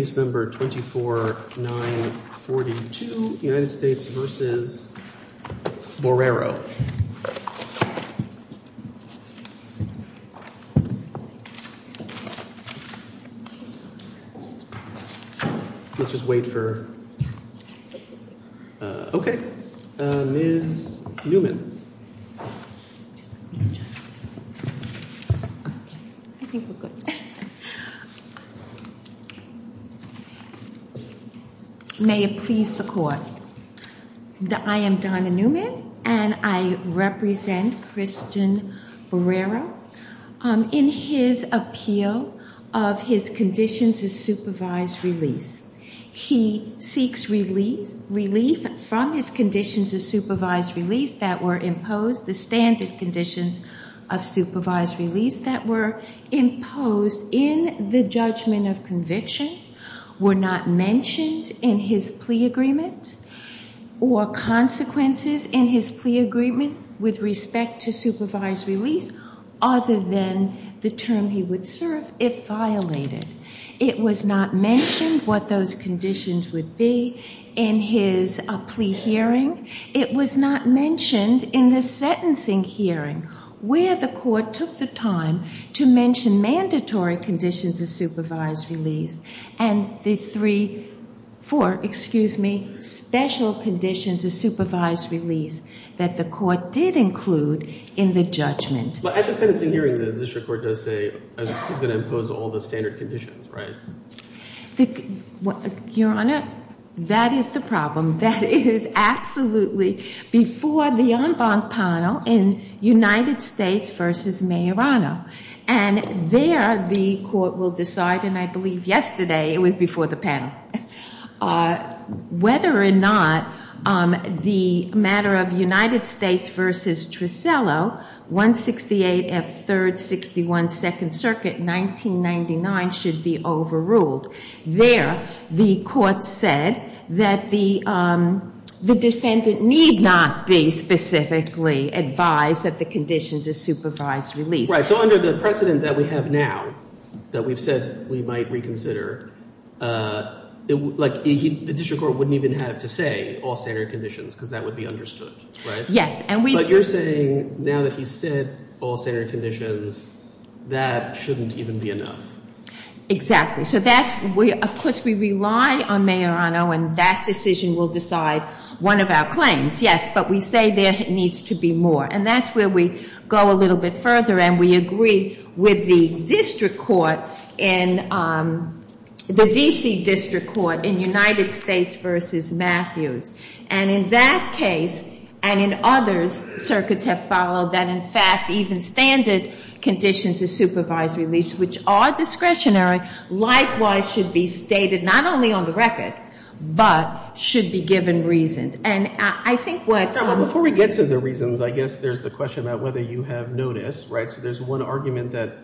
Let's just wait for... Okay, Ms. Neumann. I think we're good. May it please the court. I am Donna Neumann, and I represent Christian Borrero. In his appeal of his conditions of supervised release, he seeks relief from his conditions of supervised release that were imposed. The standard conditions of supervised release that were imposed in the judgment of conviction were not mentioned in his plea agreement or consequences in his plea agreement with respect to supervised release other than the term he would serve if violated. It was not mentioned what those conditions would be in his plea hearing. It was not mentioned in the sentencing hearing where the court took the time to mention mandatory conditions of supervised release and the three, four, excuse me, special conditions of supervised release that the court did include in the judgment. But at the sentencing hearing, the district court does say he's going to impose all the standard conditions, right? Your Honor, that is the problem. That is absolutely before the en banc panel in United States v. Mayorano. And there the court will decide, and I believe yesterday it was before the panel, whether or not the matter of United States v. Tricello, 168 F. 3rd, 61 2nd Circuit, 1999 should be overruled. There the court said that the defendant need not be specifically advised that the conditions of supervised release. Right. So under the precedent that we have now that we've said we might reconsider, like the district court wouldn't even have to say all standard conditions because that would be understood, right? Yes. And we But you're saying now that he said all standard conditions, that shouldn't even be enough. Exactly. So that's, of course, we rely on Mayorano and that decision will decide one of our claims, yes, but we say there needs to be more. And that's where we go a little bit further and we agree with the district court in, the D.C. district court in United States v. Matthews. And in that case, and in others, circuits have followed that, in fact, even standard conditions of supervised release, which are discretionary, likewise should be stated not only on the record, but should be given reasons. And I think what Before we get to the reasons, I guess there's the question about whether you have noticed, right? So there's one argument that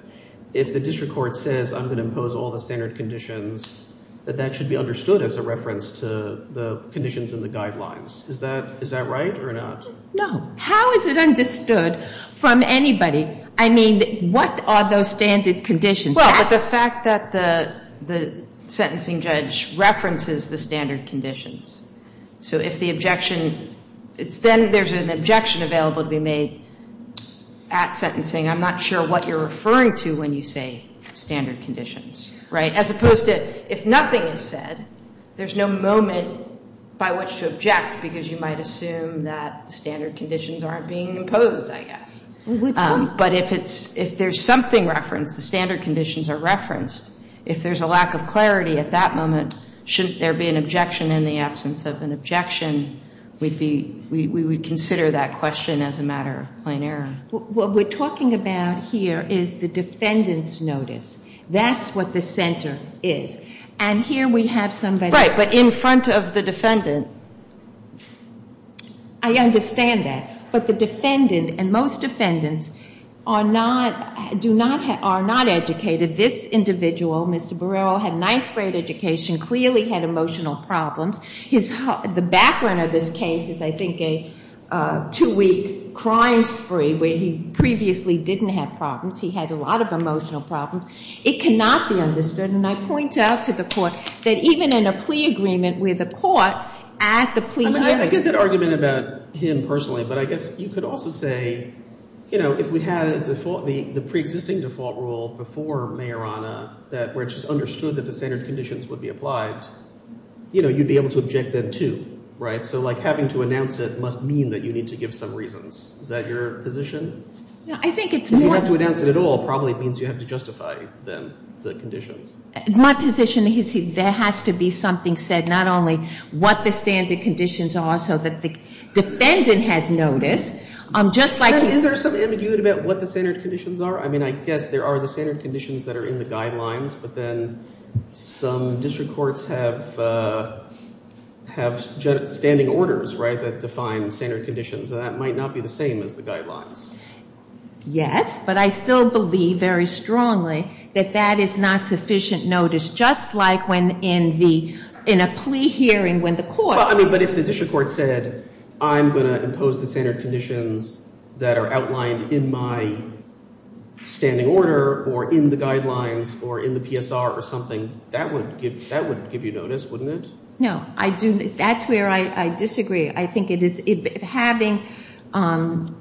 if the district court says I'm going to impose all the standard conditions, that that should be understood as a reference to the conditions in the guidelines. Is that right or not? No. How is it understood from anybody? I mean, what are those standard conditions? Well, but the fact that the sentencing judge references the standard conditions. So if the objection, then there's an objection available to be made at sentencing. I'm not sure what you're referring to when you say standard conditions, right? As opposed to if nothing is said, there's no moment by which to object because you might assume that the standard conditions aren't being imposed, I guess. Which one? But if it's, if there's something referenced, the standard conditions are referenced, if there's a lack of clarity at that moment, shouldn't there be an objection in the absence of an objection? We'd be, we would consider that question as a matter of plain error. What we're talking about here is the defendant's notice. That's what the center is. And here we have somebody... Right, but in front of the defendant. I understand that. But the defendant and most defendants are not, do not, are not educated. This individual, Mr. Barrero, had ninth grade education, clearly had emotional problems. His, the background of this case is, I think, a two-week crime spree where he previously didn't have problems. He had a lot of emotional problems. It cannot be understood, and I point out to the court that even in a plea agreement with a court at the plea... I mean, I get that argument about him personally, but I guess you could also say, you know, if we had a default, the pre-existing default rule before Mayorana that, where it's just understood that the standard conditions would be applied, you know, you'd be able to object then, too, right? So, like, having to announce it must mean that you need to give some reasons. Is that your position? I think it's more... If you have to announce it at all, probably it means you have to justify, then, the conditions. My position is there has to be something said, not only what the standard conditions are so that the defendant has notice, just like... Is there some ambiguity about what the standard conditions are? I mean, I guess there are the standard conditions that are in the guidelines, but then some district courts have standing orders, right, that define standard conditions, and that might not be the same as the guidelines. Yes, but I still believe very strongly that that is not sufficient notice, just like when in a plea hearing when the court... Well, I mean, but if the district court said, I'm going to impose the standard conditions that are outlined in my standing order or in the guidelines or in the PSR or something, that would give you notice, wouldn't it? No, I do... That's where I disagree. I think it is... Having...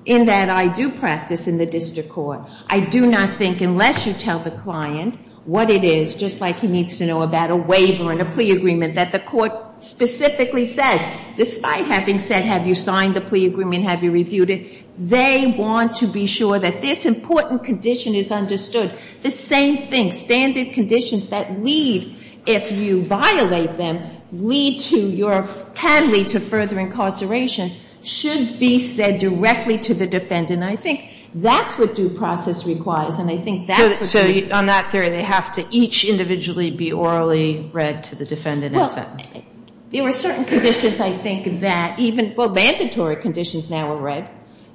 In that I do practice in the district court, I do not think, unless you tell the client what it is, just like he needs to know about a waiver and a plea agreement, that the court specifically says, despite having said, have you signed the plea agreement, have you reviewed it, they want to be sure that this important condition is understood. The same thing, standard conditions that lead, if you violate them, lead to your penalty to further incarceration should be said directly to the defendant. And I think that's what due process requires, and I think that's what... Well, there are certain conditions, I think, that even... Well, mandatory conditions now are read,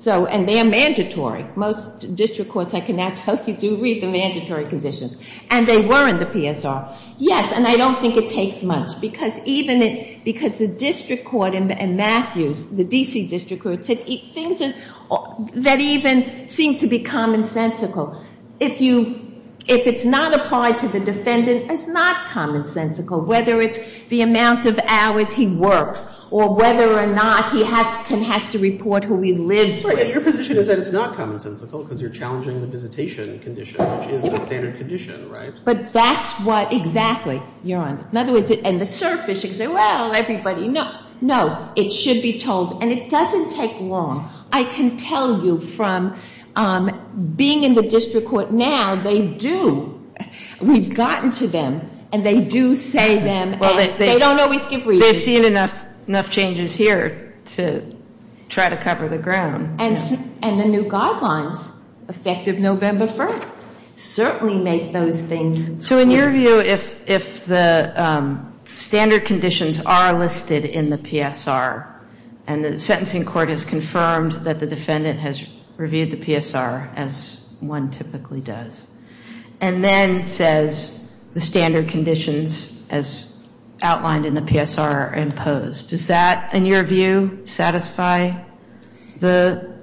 and they are mandatory. Most district courts, I can now tell you, do read the mandatory conditions. And they were in the PSR. Yes, and I don't think it takes much, because the district court in Matthews, the D.C. district court, that even seems to be commonsensical. If it's not applied to the defendant, it's not commonsensical, whether it's the amount of hours he works or whether or not he has to report who he lives with. Your position is that it's not commonsensical because you're challenging the visitation condition, which is the standard condition, right? But that's what... Exactly. Your Honor. In other words, on the surface, you can say, well, everybody knows. No, it should be told, and it doesn't take long. I can tell you from being in the district court now, they do. We've gotten to them, and they do say them, and they don't always give reasons. They've seen enough changes here to try to cover the ground. And the new guidelines, effective November 1st, certainly make those things clear. So in your view, if the standard conditions are listed in the PSR, and the sentencing court has confirmed that the defendant has reviewed the PSR, as one typically does, and then says the standard conditions, as outlined in the PSR, are imposed, does that, in your view, satisfy the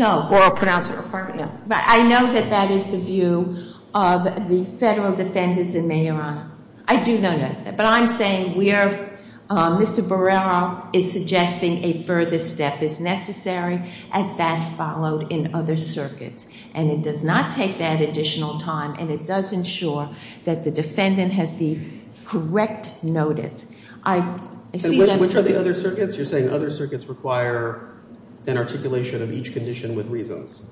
oral pronouncement requirement? No. I know that that is the view of the federal defendants in May, Your Honor. I do know that. But I'm saying we are, Mr. Barrera is suggesting a further step is necessary as that followed in other circuits. And it does not take that additional time, and it does ensure that the defendant has the correct notice. Which are the other circuits? You're saying other circuits require an articulation of each condition with reasons.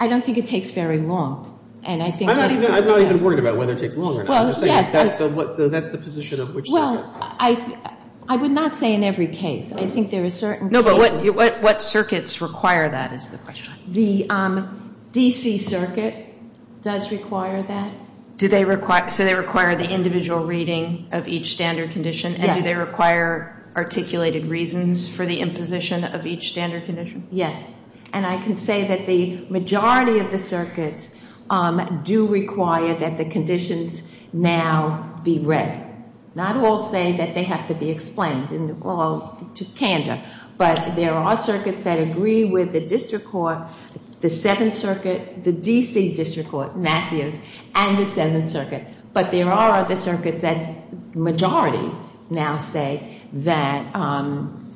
I don't think it takes very long. I'm not even worried about whether it takes long or not. So that's the position of which circuits? Well, I would not say in every case. I think there are certain cases. No, but what circuits require that is the question. The D.C. Circuit does require that. So they require the individual reading of each standard condition, and do they require articulated reasons for the imposition of each standard condition? Yes. And I can say that the majority of the circuits do require that the conditions now be read. Not all say that they have to be explained, although to candor. But there are circuits that agree with the District Court, the 7th Circuit, the D.C. District Court, Matthews, and the 7th Circuit. But there are other circuits that the majority now say that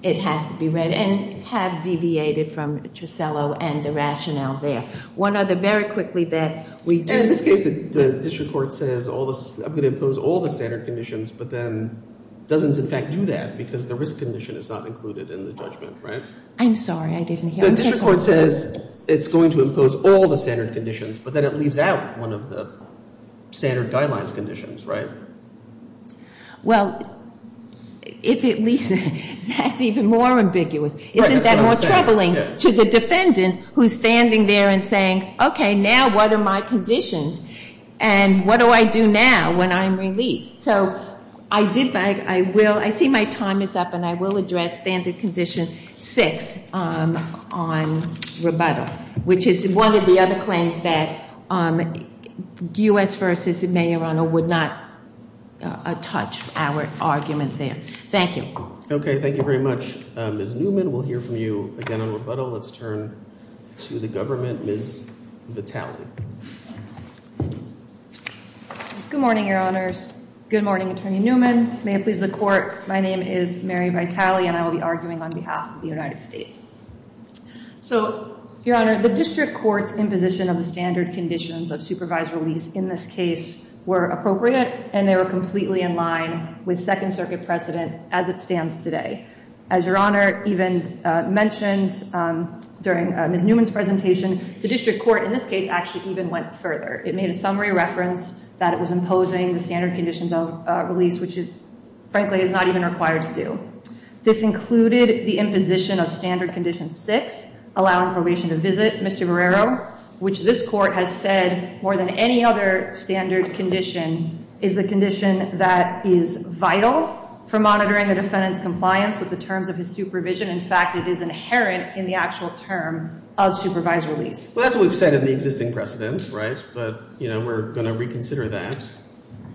it has to be read, and have deviated from Trussello and the rationale there. One other very quickly that we do. And in this case, the District Court says I'm going to impose all the standard conditions, but then doesn't in fact do that, because the risk condition is not included in the judgment, right? I'm sorry, I didn't hear. The District Court says it's going to impose all the standard conditions, but then it leaves out one of the standard guidelines conditions, right? Well, if it leaves it, that's even more ambiguous. Isn't that more troubling to the defendant who's standing there and saying, okay, now what are my conditions, and what do I do now when I'm released? So I did, I will, I see my time is up, and I will address standard condition 6 on rebuttal, which is one of the other claims that U.S. v. Mayorano would not touch our argument there. Thank you. Okay, thank you very much. Ms. Newman, we'll hear from you again on rebuttal. Let's turn to the government. Ms. Vitale. Good morning, Your Honors. Good morning, Attorney Newman. May it please the Court, my name is Mary Vitale, and I will be arguing on behalf of the United States. So, Your Honor, the District Court's imposition of the standard conditions of supervised release in this case were appropriate, and they were completely in line with Second Circuit precedent as it stands today. As Your Honor even mentioned during Ms. Newman's presentation, the District Court in this case actually even went further. It made a summary reference that it was imposing the standard conditions of release, which frankly is not even required to do. This included the imposition of standard condition 6, allowing probation to exist. Mr. Barrero, which this Court has said more than any other standard condition, is the condition that is vital for monitoring the defendant's compliance with the terms of his supervision. In fact, it is inherent in the actual term of supervised release. Well, that's what we've said in the existing precedent, right? But, you know, we're going to reconsider that.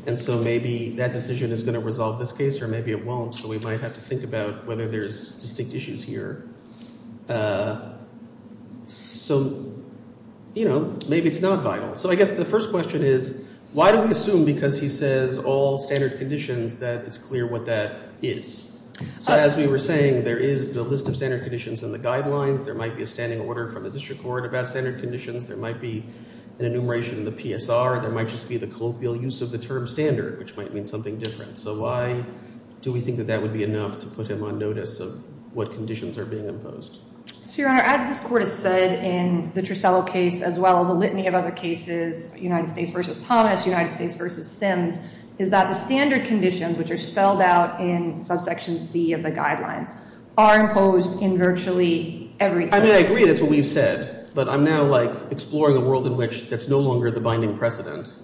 And so maybe that decision is going to resolve this case, or maybe it won't. So we might have to think about whether there's distinct issues here. So, you know, maybe it's not vital. So I guess the first question is, why do we assume because he says all standard conditions that it's clear what that is? So as we were saying, there is the list of standard conditions in the guidelines. There might be a standing order from the District Court about standard conditions. There might be an enumeration in the PSR. There might just be the colloquial use of the term standard, which might mean something different. So why do we think that that would be enough to put him on notice of what conditions are being imposed? Your Honor, as this Court has said in the Trussell case, as well as a litany of other cases, United States v. Thomas, United States v. Sims, is that the standard conditions, which are spelled out in subsection C of the guidelines, are imposed in virtually every case. I mean, I agree that's what we've said. But I'm now, like, exploring a world in which that's no longer the binding precedent.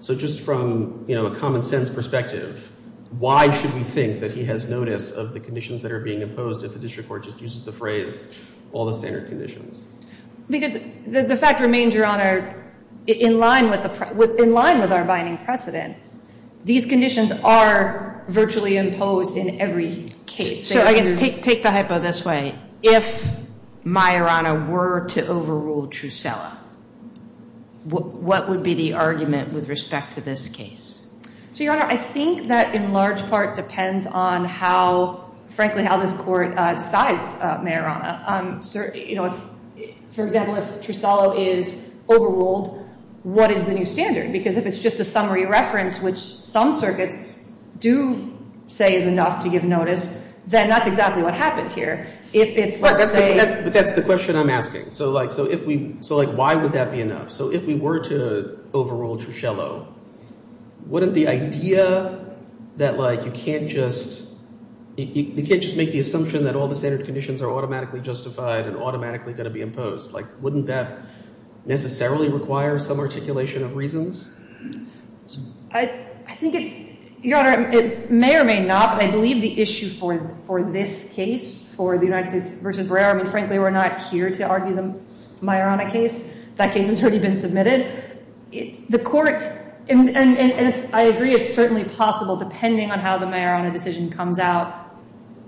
So just from, you know, a common sense perspective, why should we think that he has notice of the conditions that are being imposed if the District Court just uses the phrase all the standard conditions? Because the fact remains, Your Honor, in line with our binding precedent, these conditions are virtually imposed in every case. So I guess take the hypo this way. If Majorana were to overrule Trussell, what would be the argument with respect to this case? So, Your Honor, I think that in large part depends on how, frankly, how this Court decides, Majorana. You know, for example, if Trussell is overruled, what is the new standard? Because if it's just a summary reference, which some circuits do say is enough to give notice, then that's exactly what happened here. But that's the question I'm asking. So, like, why would that be enough? So if we were to overrule Trussell, wouldn't the idea that, like, you can't just make the assumption that all the standard conditions are automatically justified and automatically going to be imposed, like, wouldn't that necessarily require some articulation of reasons? I think it, Your Honor, it may or may not, but I believe the issue for this case, for the United States v. Brer, I mean, frankly, we're not here to argue the Majorana case. That case has already been submitted. The Court, and I agree it's certainly possible, depending on how the Majorana decision comes out,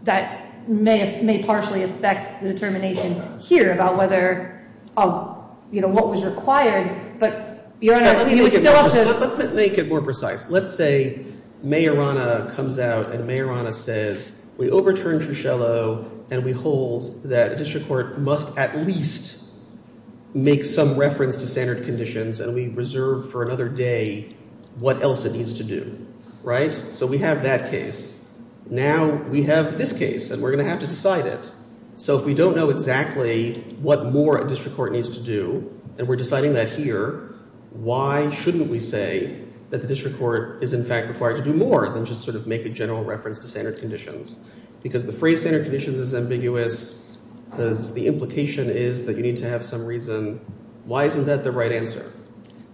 that may partially affect the determination here about whether of, you know, what was required. But, Your Honor, you would still have to... Let's make it more precise. Let's say Majorana comes out and Majorana says, we overturned Trussello, and we hold that a district court must at least make some reference to standard conditions, and we reserve for another day what else it needs to do, right? So we have that case. Now we have this case, and we're going to have to decide it. So if we don't know exactly what more a district court needs to do, and we're deciding that here, why shouldn't we say that the district court is, in fact, required to do more than just sort of make a general reference to standard conditions? Because the phrase standard conditions is ambiguous, because the implication is that you need to have some reason. Why isn't that the right answer?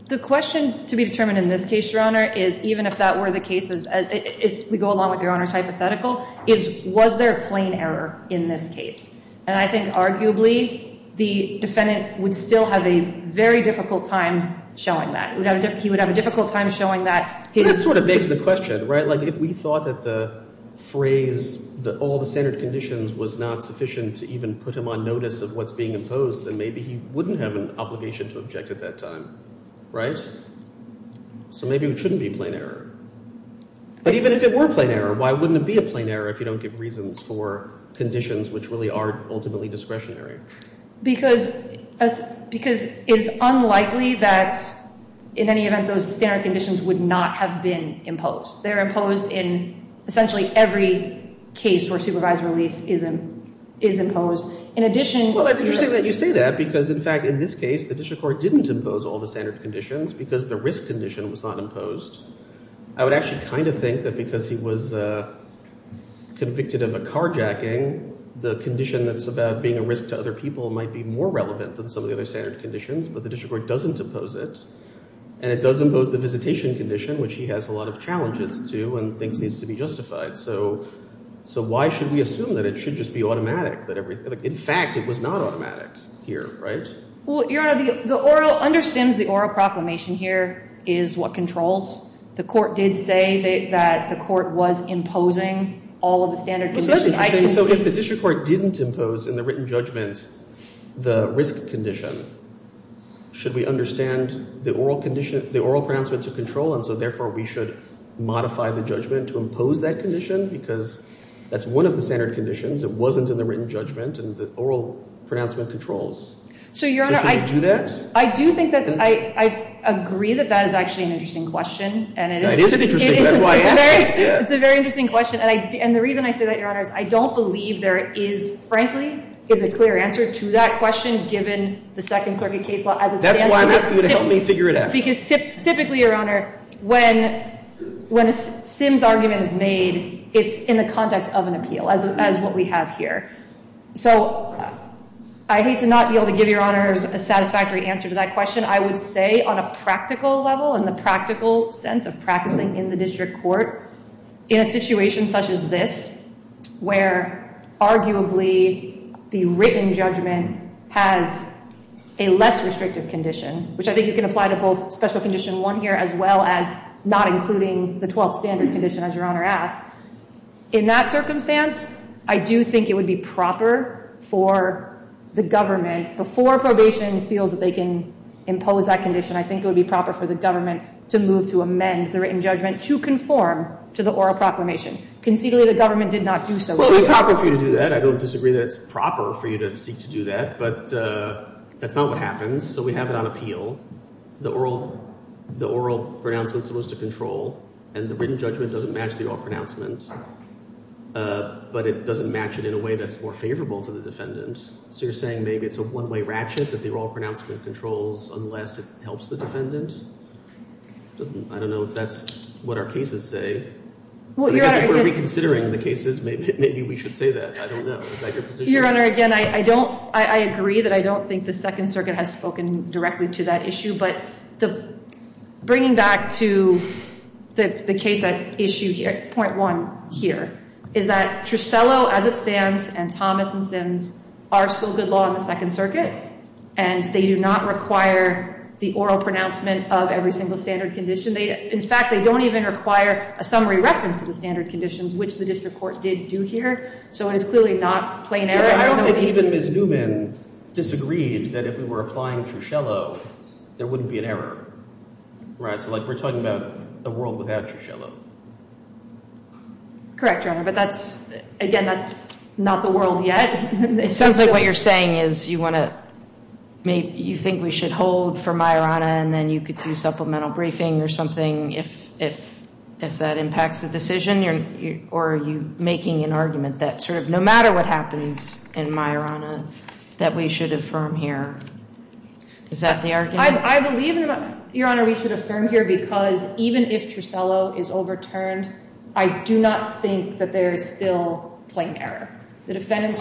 The question to be determined in this case, Your Honor, is even if that were the cases, if we go along with Your Honor's hypothetical, is was there a plain error in this case? And I think, arguably, the defendant would still have a very difficult time showing that. He would have a difficult time showing that... That sort of begs the question, right? Like, if we thought that the phrase that all the standard conditions was not sufficient to even put him on notice of what's being imposed, then maybe he wouldn't have an obligation to object at that time, right? So maybe it shouldn't be a plain error. But even if it were a plain error, why wouldn't it be a plain error if you don't give reasons for conditions which really are ultimately discretionary? Because it's unlikely that in any event those standard conditions would not have been imposed. They're imposed in essentially every case where supervised release is imposed. In addition... Well, it's interesting that you say that, because in fact, in this case, the district court didn't impose all the standard conditions, because the risk condition was not imposed. I would actually kind of think that because he was convicted of a carjacking, the condition that's about being a risk to other people might be more relevant than some of the other standard conditions. But the district court doesn't impose it. And it does impose the visitation condition, which he has a lot of challenges to and thinks needs to be justified. So why should we assume that it should just be automatic, that everything... In fact, it was not automatic here, right? Well, Your Honor, the oral... Under Sims, the oral proclamation here is what controls. The court did say that the court was imposing all of the standard conditions. So if the district court didn't impose in the written judgment the risk condition, should we understand the oral pronouncement to control, and so therefore we should modify the judgment to impose that condition? Because that's one of the standard conditions. It wasn't in the written judgment, and the oral pronouncement controls. So should we do that? I do think that's... I agree that that is actually an interesting question. It is an interesting question. That's why I asked it. It's a very interesting question. And the reason I say that, Your Honor, is I don't believe there is, frankly, is a clear answer to that question given the Second Circuit case law as it stands. That's why I'm asking you to help me figure it out. Because typically, Your Honor, when a Sims argument is made, it's in the context of an appeal, as what we have here. So I hate to not be able to give Your Honor a satisfactory answer to that question. I would say on a practical level, in the practical sense of practicing in the district court, in a situation such as this, where arguably the written judgment has a less restrictive condition, which I think you can apply to both Special Condition 1 here as well as not including the Twelfth Standard condition, as Your Honor asked. In that circumstance, I do think it would be proper for the government, before probation feels that they can impose that condition, I think it would be proper for the government to move to amend the written judgment to conform to the oral proclamation. Conceitually, the government did not do so here. Well, it would be proper for you to do that. I don't disagree that it's proper for you to seek to do that. But that's not what happens. So we have it on appeal. The oral pronouncement is supposed to match it, but it doesn't match it in a way that's more favorable to the defendant. So you're saying maybe it's a one-way ratchet that the oral pronouncement controls unless it helps the defendant? I don't know if that's what our cases say. I guess if we're reconsidering the cases, maybe we should say that. I don't know. Is that your position? Your Honor, again, I don't I agree that I don't think the Second Circuit has spoken directly to that issue, but bringing back to the case at point one here, is that Trusiello, as it stands, and Thomas and Sims are still good law in the Second Circuit, and they do not require the oral pronouncement of every single standard condition. In fact, they don't even require a summary reference to the standard conditions, which the district court did do here. So it is clearly not plain error. I don't think even Ms. Newman disagreed that if we were applying Trusiello, there wouldn't be an error. So we're talking about a world without Trusiello. Correct, Your Honor, but again, that's not the world yet. It sounds like what you're saying is you think we should hold for Majorana and then you could do supplemental briefing or something if that impacts the decision, or are you making an argument that sort of no matter what happens in Majorana that we should affirm here? Is that the argument? I believe, Your Honor, we should affirm here because even if Trusiello is overturned, I do not think that there is still plain error. The defendant's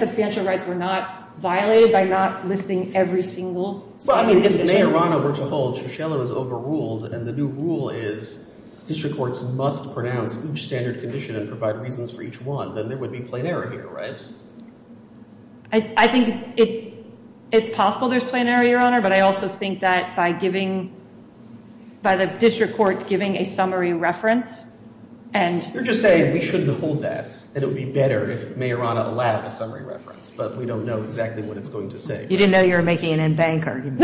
substantial rights were not violated by not listing every single standard condition. Well, I mean, if Majorana were to hold, Trusiello is overruled and the new rule is district courts must pronounce each standard condition and provide reasons for each one, then there would be plain error here, right? I think it's possible there's plain error, Your Honor, but I also think that by giving by the district court giving a summary reference and... You're just saying we shouldn't hold that and it would be better if Majorana allowed a summary reference, but we don't know exactly what it's going to say. You didn't know you were making an in-bank argument.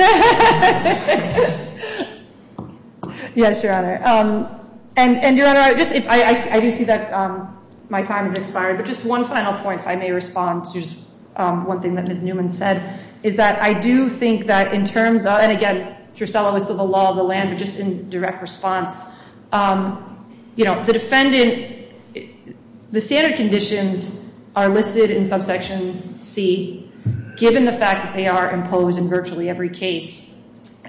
Yes, Your Honor. And, Your Honor, I do see that my time has expired, but just one final point, if I may respond to just one thing that Ms. Newman said, is that I do think that in terms of, and again, Trusiello is still the law of the land, but just in direct response, you know, the defendant, the standard conditions are listed in subsection C given the fact that they are imposed in virtually every case,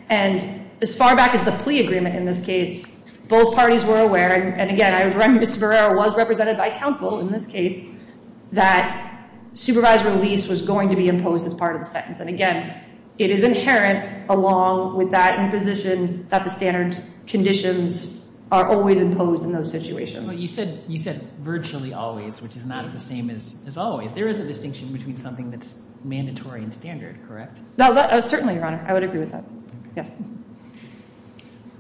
and as far back as the plea agreement in this case, both parties were aware, and again, I remember Mr. Verrero was represented by counsel in this case, that supervised release was going to be imposed as part of the sentence, and again, it is inherent along with that position that the standard conditions are always imposed in those situations. You said virtually always, which is not the same as always. There is a distinction between something that's mandatory and standard, correct? Certainly, Your Honor. I would agree with that.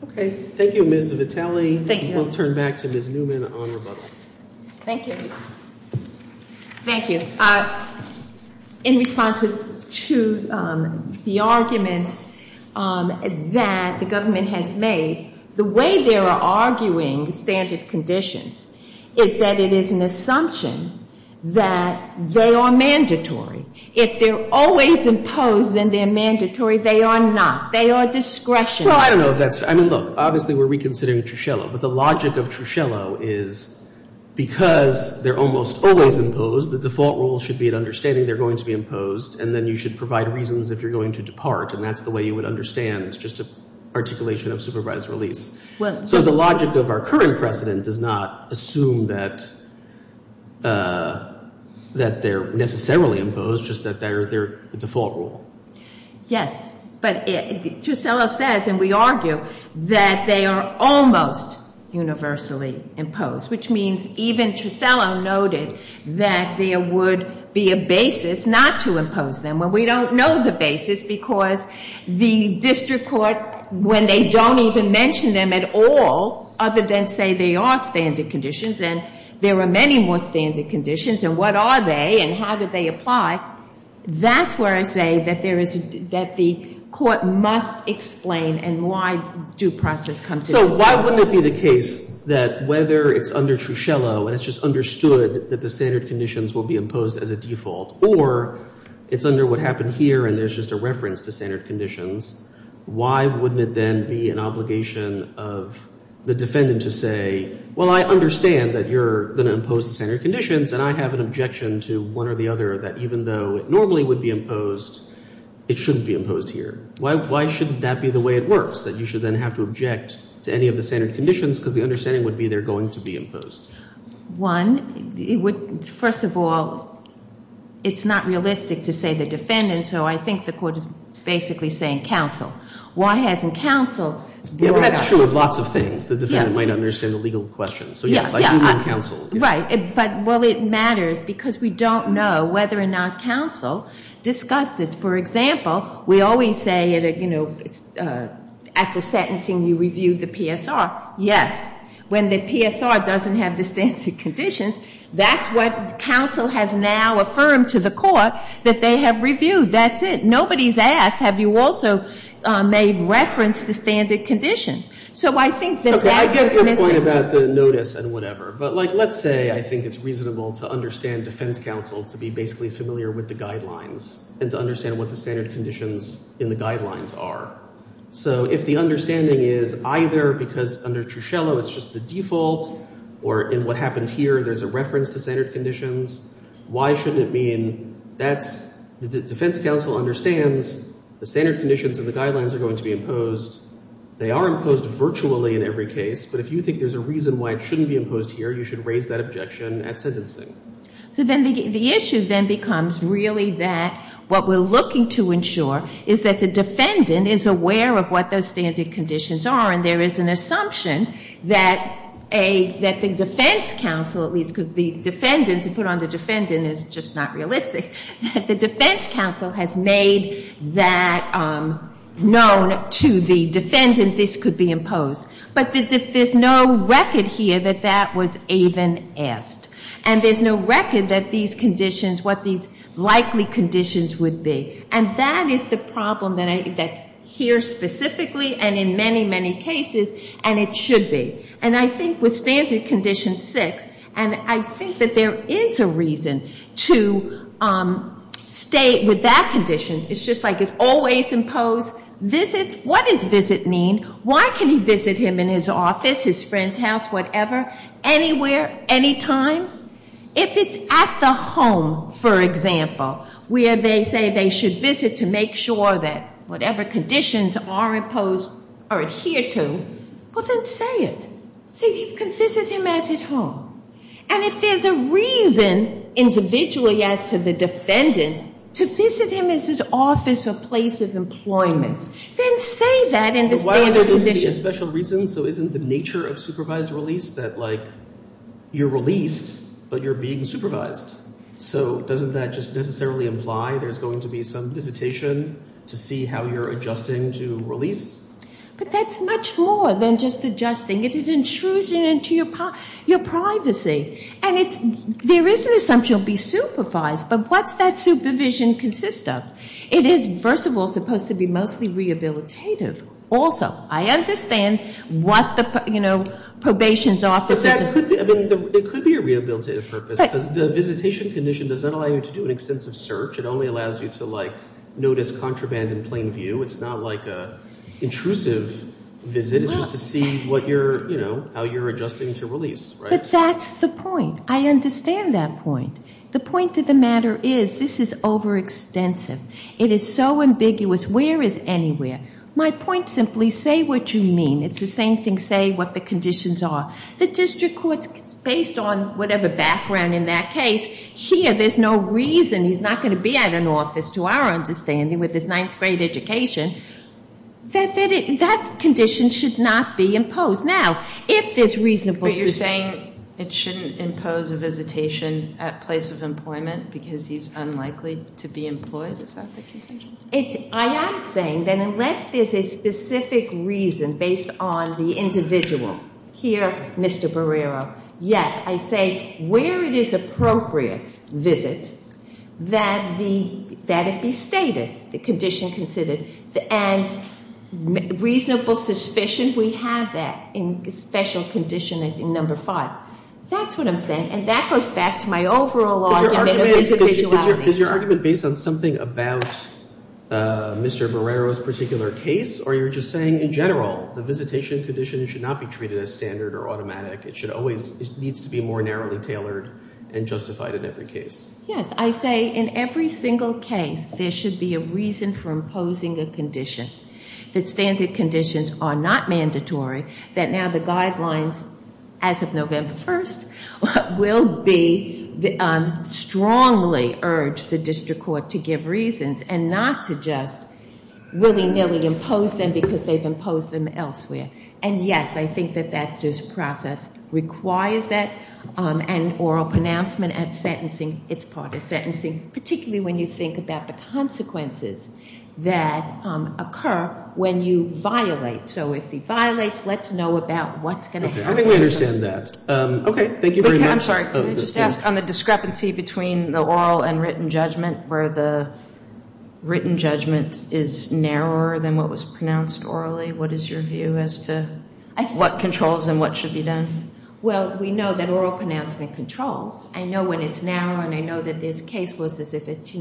Okay. Thank you, Ms. Vitale. We'll turn back to Ms. Newman on rebuttal. Thank you. Thank you. In response to the argument that the government has made, the way they are arguing standard conditions is that it is an assumption that they are mandatory. If they're always imposed, then they're mandatory. They are not. They are discretionary. Well, I don't know if that's, I mean, look, obviously we're reconsidering Trusiello, but the logic of Trusiello is because they're almost always imposed, the default rule should be an understanding they're going to be imposed, and then you should provide reasons if you're going to depart, and that's the way you would understand. It's just an articulation of supervised release. So the logic of our current precedent does not assume that they're necessarily imposed, just that they're the default rule. Yes, but Trusiello says, and we argue, that they are almost universally imposed, which means even Trusiello noted that there would be a basis not to impose them. Well, we don't know the basis because the district court, when they don't even mention them at all, other than say they are standard conditions, and there are many more standard conditions, and what are they and how do they apply, that's where I say that there is, that the court must explain and why due process comes into play. So why wouldn't it be the case that whether it's under Trusiello and it's just understood that the standard conditions will be imposed as a default, or it's under what happened here and there's just a reference to standard conditions, why wouldn't it then be an obligation of the defendant to say, well, I understand that you're going to impose the standard conditions, and I have an objection to one or the other that even though it normally would be imposed, it shouldn't be imposed here. Why shouldn't that be the way it works, that you should then have to object to any of the standard conditions because the understanding would be they're going to be imposed? One, it would, first of all, it's not realistic to say the defendant, so I think the court is basically saying counsel. Why hasn't counsel brought up that? Right. But, well, it matters because we don't know whether or not counsel discussed it. For example, we always say at the sentencing you review the PSR. Yes. When the PSR doesn't have the standard conditions, that's what counsel has now affirmed to the court that they have reviewed. That's it. Nobody's asked, have you also made reference to standard conditions? So I think that that could be missing. Okay. I get your point about the notice and whatever. But, like, let's say I think it's reasonable to understand defense counsel to be basically familiar with the guidelines and to understand what the standard conditions in the guidelines are. So if the understanding is either because under Truschello it's just the default or in what happened here there's a reference to standard conditions, why shouldn't it mean that's, the defense counsel understands the standard conditions in the guidelines are going to be imposed. They are imposed virtually in every case. But if you think there's a reason why it shouldn't be imposed here, you should raise that objection at sentencing. So then the issue then becomes really that what we're looking to ensure is that the defendant is aware of what those standard conditions are, and there is an assumption that the defense counsel, at least because the defendant, to put on the defendant is just not realistic, that the defense counsel has made that known to the defendant this could be imposed. But there's no record here that that was even asked. And there's no record that these conditions, what these likely conditions would be. And that is the problem that's here specifically and in many, many cases, and it should be. And I think with standard condition six, and I think that there is a reason to stay with that condition. It's just like it's always imposed. What does visit mean? Why can he visit him in his office, his friend's house, whatever, anywhere, anytime? If it's at the home, for example, where they say they should visit to make sure that whatever conditions are imposed are adhered to, well, then say it. Say you can visit him as at home. And if there's a reason individually as to the defendant to visit him as his office or place of employment, then say that in the standard condition. But why are there going to be a special reason? So isn't the nature of supervised release that like you're released, but you're being supervised? So doesn't that just necessarily imply there's going to be some visitation to see how you're adjusting to release? But that's much more than just adjusting. It is intrusion into your privacy. And there is an assumption to be supervised, but what's that supervision consist of? It is, first of all, supposed to be mostly rehabilitative. Also, I understand what the probation's office is. It could be a rehabilitative purpose, because the visitation condition doesn't allow you to do an extensive search. It only allows you to notice contraband in plain view. It's not like an intrusive visit. It's just to see how you're adjusting to release. But that's the point. I understand that point. The point of the matter is this is overextensive. It is so ambiguous. Where is anywhere? My point simply, say what you mean. It's the same thing, say what the conditions are. The district court's based on whatever background in that case. Here, there's no reason he's not going to be at an office, to our understanding, with his ninth grade education. That condition should not be imposed. Now, if there's reasonable suspicion. You're saying it shouldn't impose a visitation at place of employment because he's unlikely to be employed? Is that the contention? I am saying that unless there's a specific reason based on the individual. Here, Mr. Barrero, yes. I say where it is appropriate visit, that it be stated, the condition considered. And reasonable suspicion, we have that in special condition number five. That's what I'm saying. And that goes back to my overall argument of individuality. Is your argument based on something about Mr. Barrero's particular case? Or you're just saying in general, the visitation condition should not be treated as standard or automatic. It needs to be more narrowly tailored and justified in every case. Yes. I say in every single case, there should be a reason for imposing a condition. That standard conditions are not mandatory. That now the guidelines, as of November 1st, will be strongly urged the district court to give reasons and not to just willy-nilly impose them because they've imposed them elsewhere. And yes, I think that that process requires that. And oral pronouncement at sentencing is part of sentencing, particularly when you think about the consequences that occur when you violate. So if he violates, let's know about what's going to happen. I think we understand that. Okay. Thank you very much. I'm sorry. Can I just ask on the discrepancy between the oral and written judgment where the written judgment is narrower than what was pronounced orally? What is your view as to what controls and what should be done? Well, we know that oral pronouncement controls. I know when it's narrow and I know that there's case laws as if it's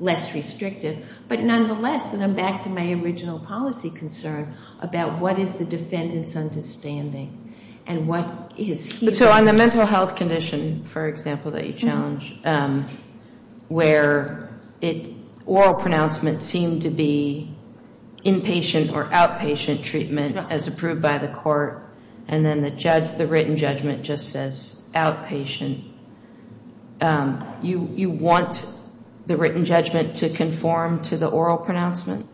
less restrictive. But nonetheless, and I'm back to my original policy concern about what is the defendant's understanding and what is he... So on the mental health condition, for example, that you challenge, where oral pronouncement seemed to be inpatient or outpatient treatment as approved by the court, and then the written judgment just says outpatient, you want the written judgment to conform to the oral pronouncement?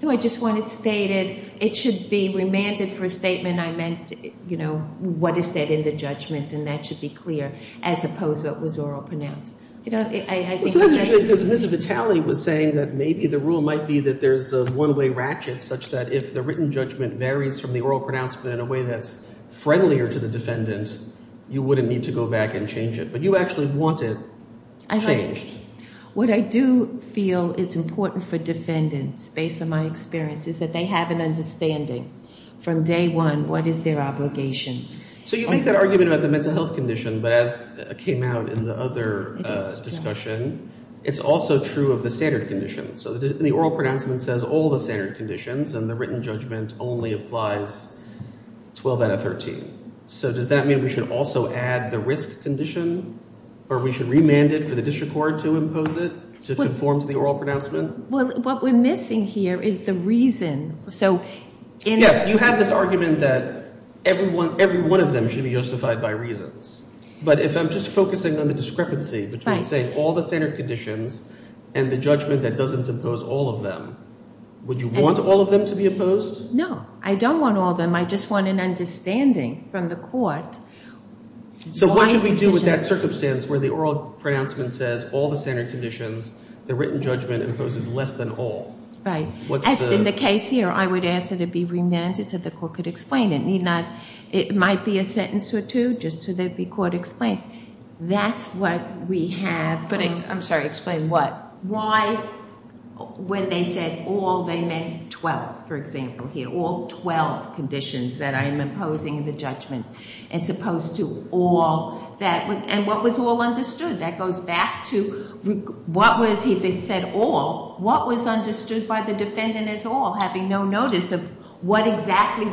No, I just want it stated. It should be remanded for a statement. I meant, you know, what is said in the judgment, and that should be clear as opposed to what was oral pronounced. You know, I think... Actually, because Ms. Vitale was saying that maybe the rule might be that there's a one-way ratchet, such that if the written judgment varies from the oral pronouncement in a way that's friendlier to the defendant, you wouldn't need to go back and change it, but you actually want it changed. What I do feel is important for defendants, based on my experience, is that they have an understanding from day one what is their obligations. So you make that argument about the mental health condition, but as came out in the other discussion, it's also true of the standard conditions. So the oral pronouncement says all the standard conditions, and the written judgment only applies 12 out of 13. So does that mean we should also add the risk condition, or we should remand it for the district court to impose it to conform to the oral pronouncement? Well, what we're missing here is the reason. Yes, you have this argument that every one of them should be justified by reasons. But if I'm just focusing on the discrepancy between, say, all the standard conditions and the judgment that doesn't impose all of them, would you want all of them to be opposed? No, I don't want all of them. I just want an understanding from the court. So what should we do with that circumstance where the oral pronouncement says all the standard conditions, the written judgment imposes less than all? In the case here, I would ask that it be remanded so the court could explain it. It might be a sentence or two just so they'd be called to explain. That's what we have, but I'm sorry, explain what? Why, when they said all, they meant 12, for example, here, all 12 conditions that I am imposing in the judgment, as opposed to all that. And what was all understood? That goes back to what was, if it said all, what was understood by the defendant as all, having no notice of what exactly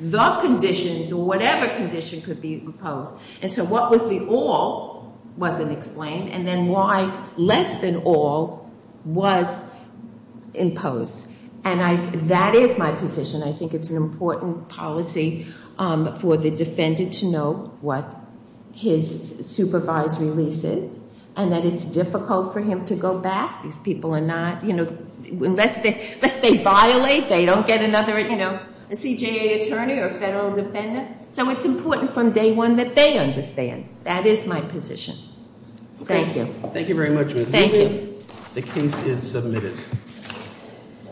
the conditions or whatever condition could be imposed? And so what was the all wasn't explained, and then why less than all was imposed? And that is my position. I think it's an important policy for the defendant to know what his supervised release is and that it's difficult for him to go back. These people are not, you know, unless they violate, they don't get another, you know, CJA attorney or federal defendant, so it's important from day one that they understand. That is my position. Thank you.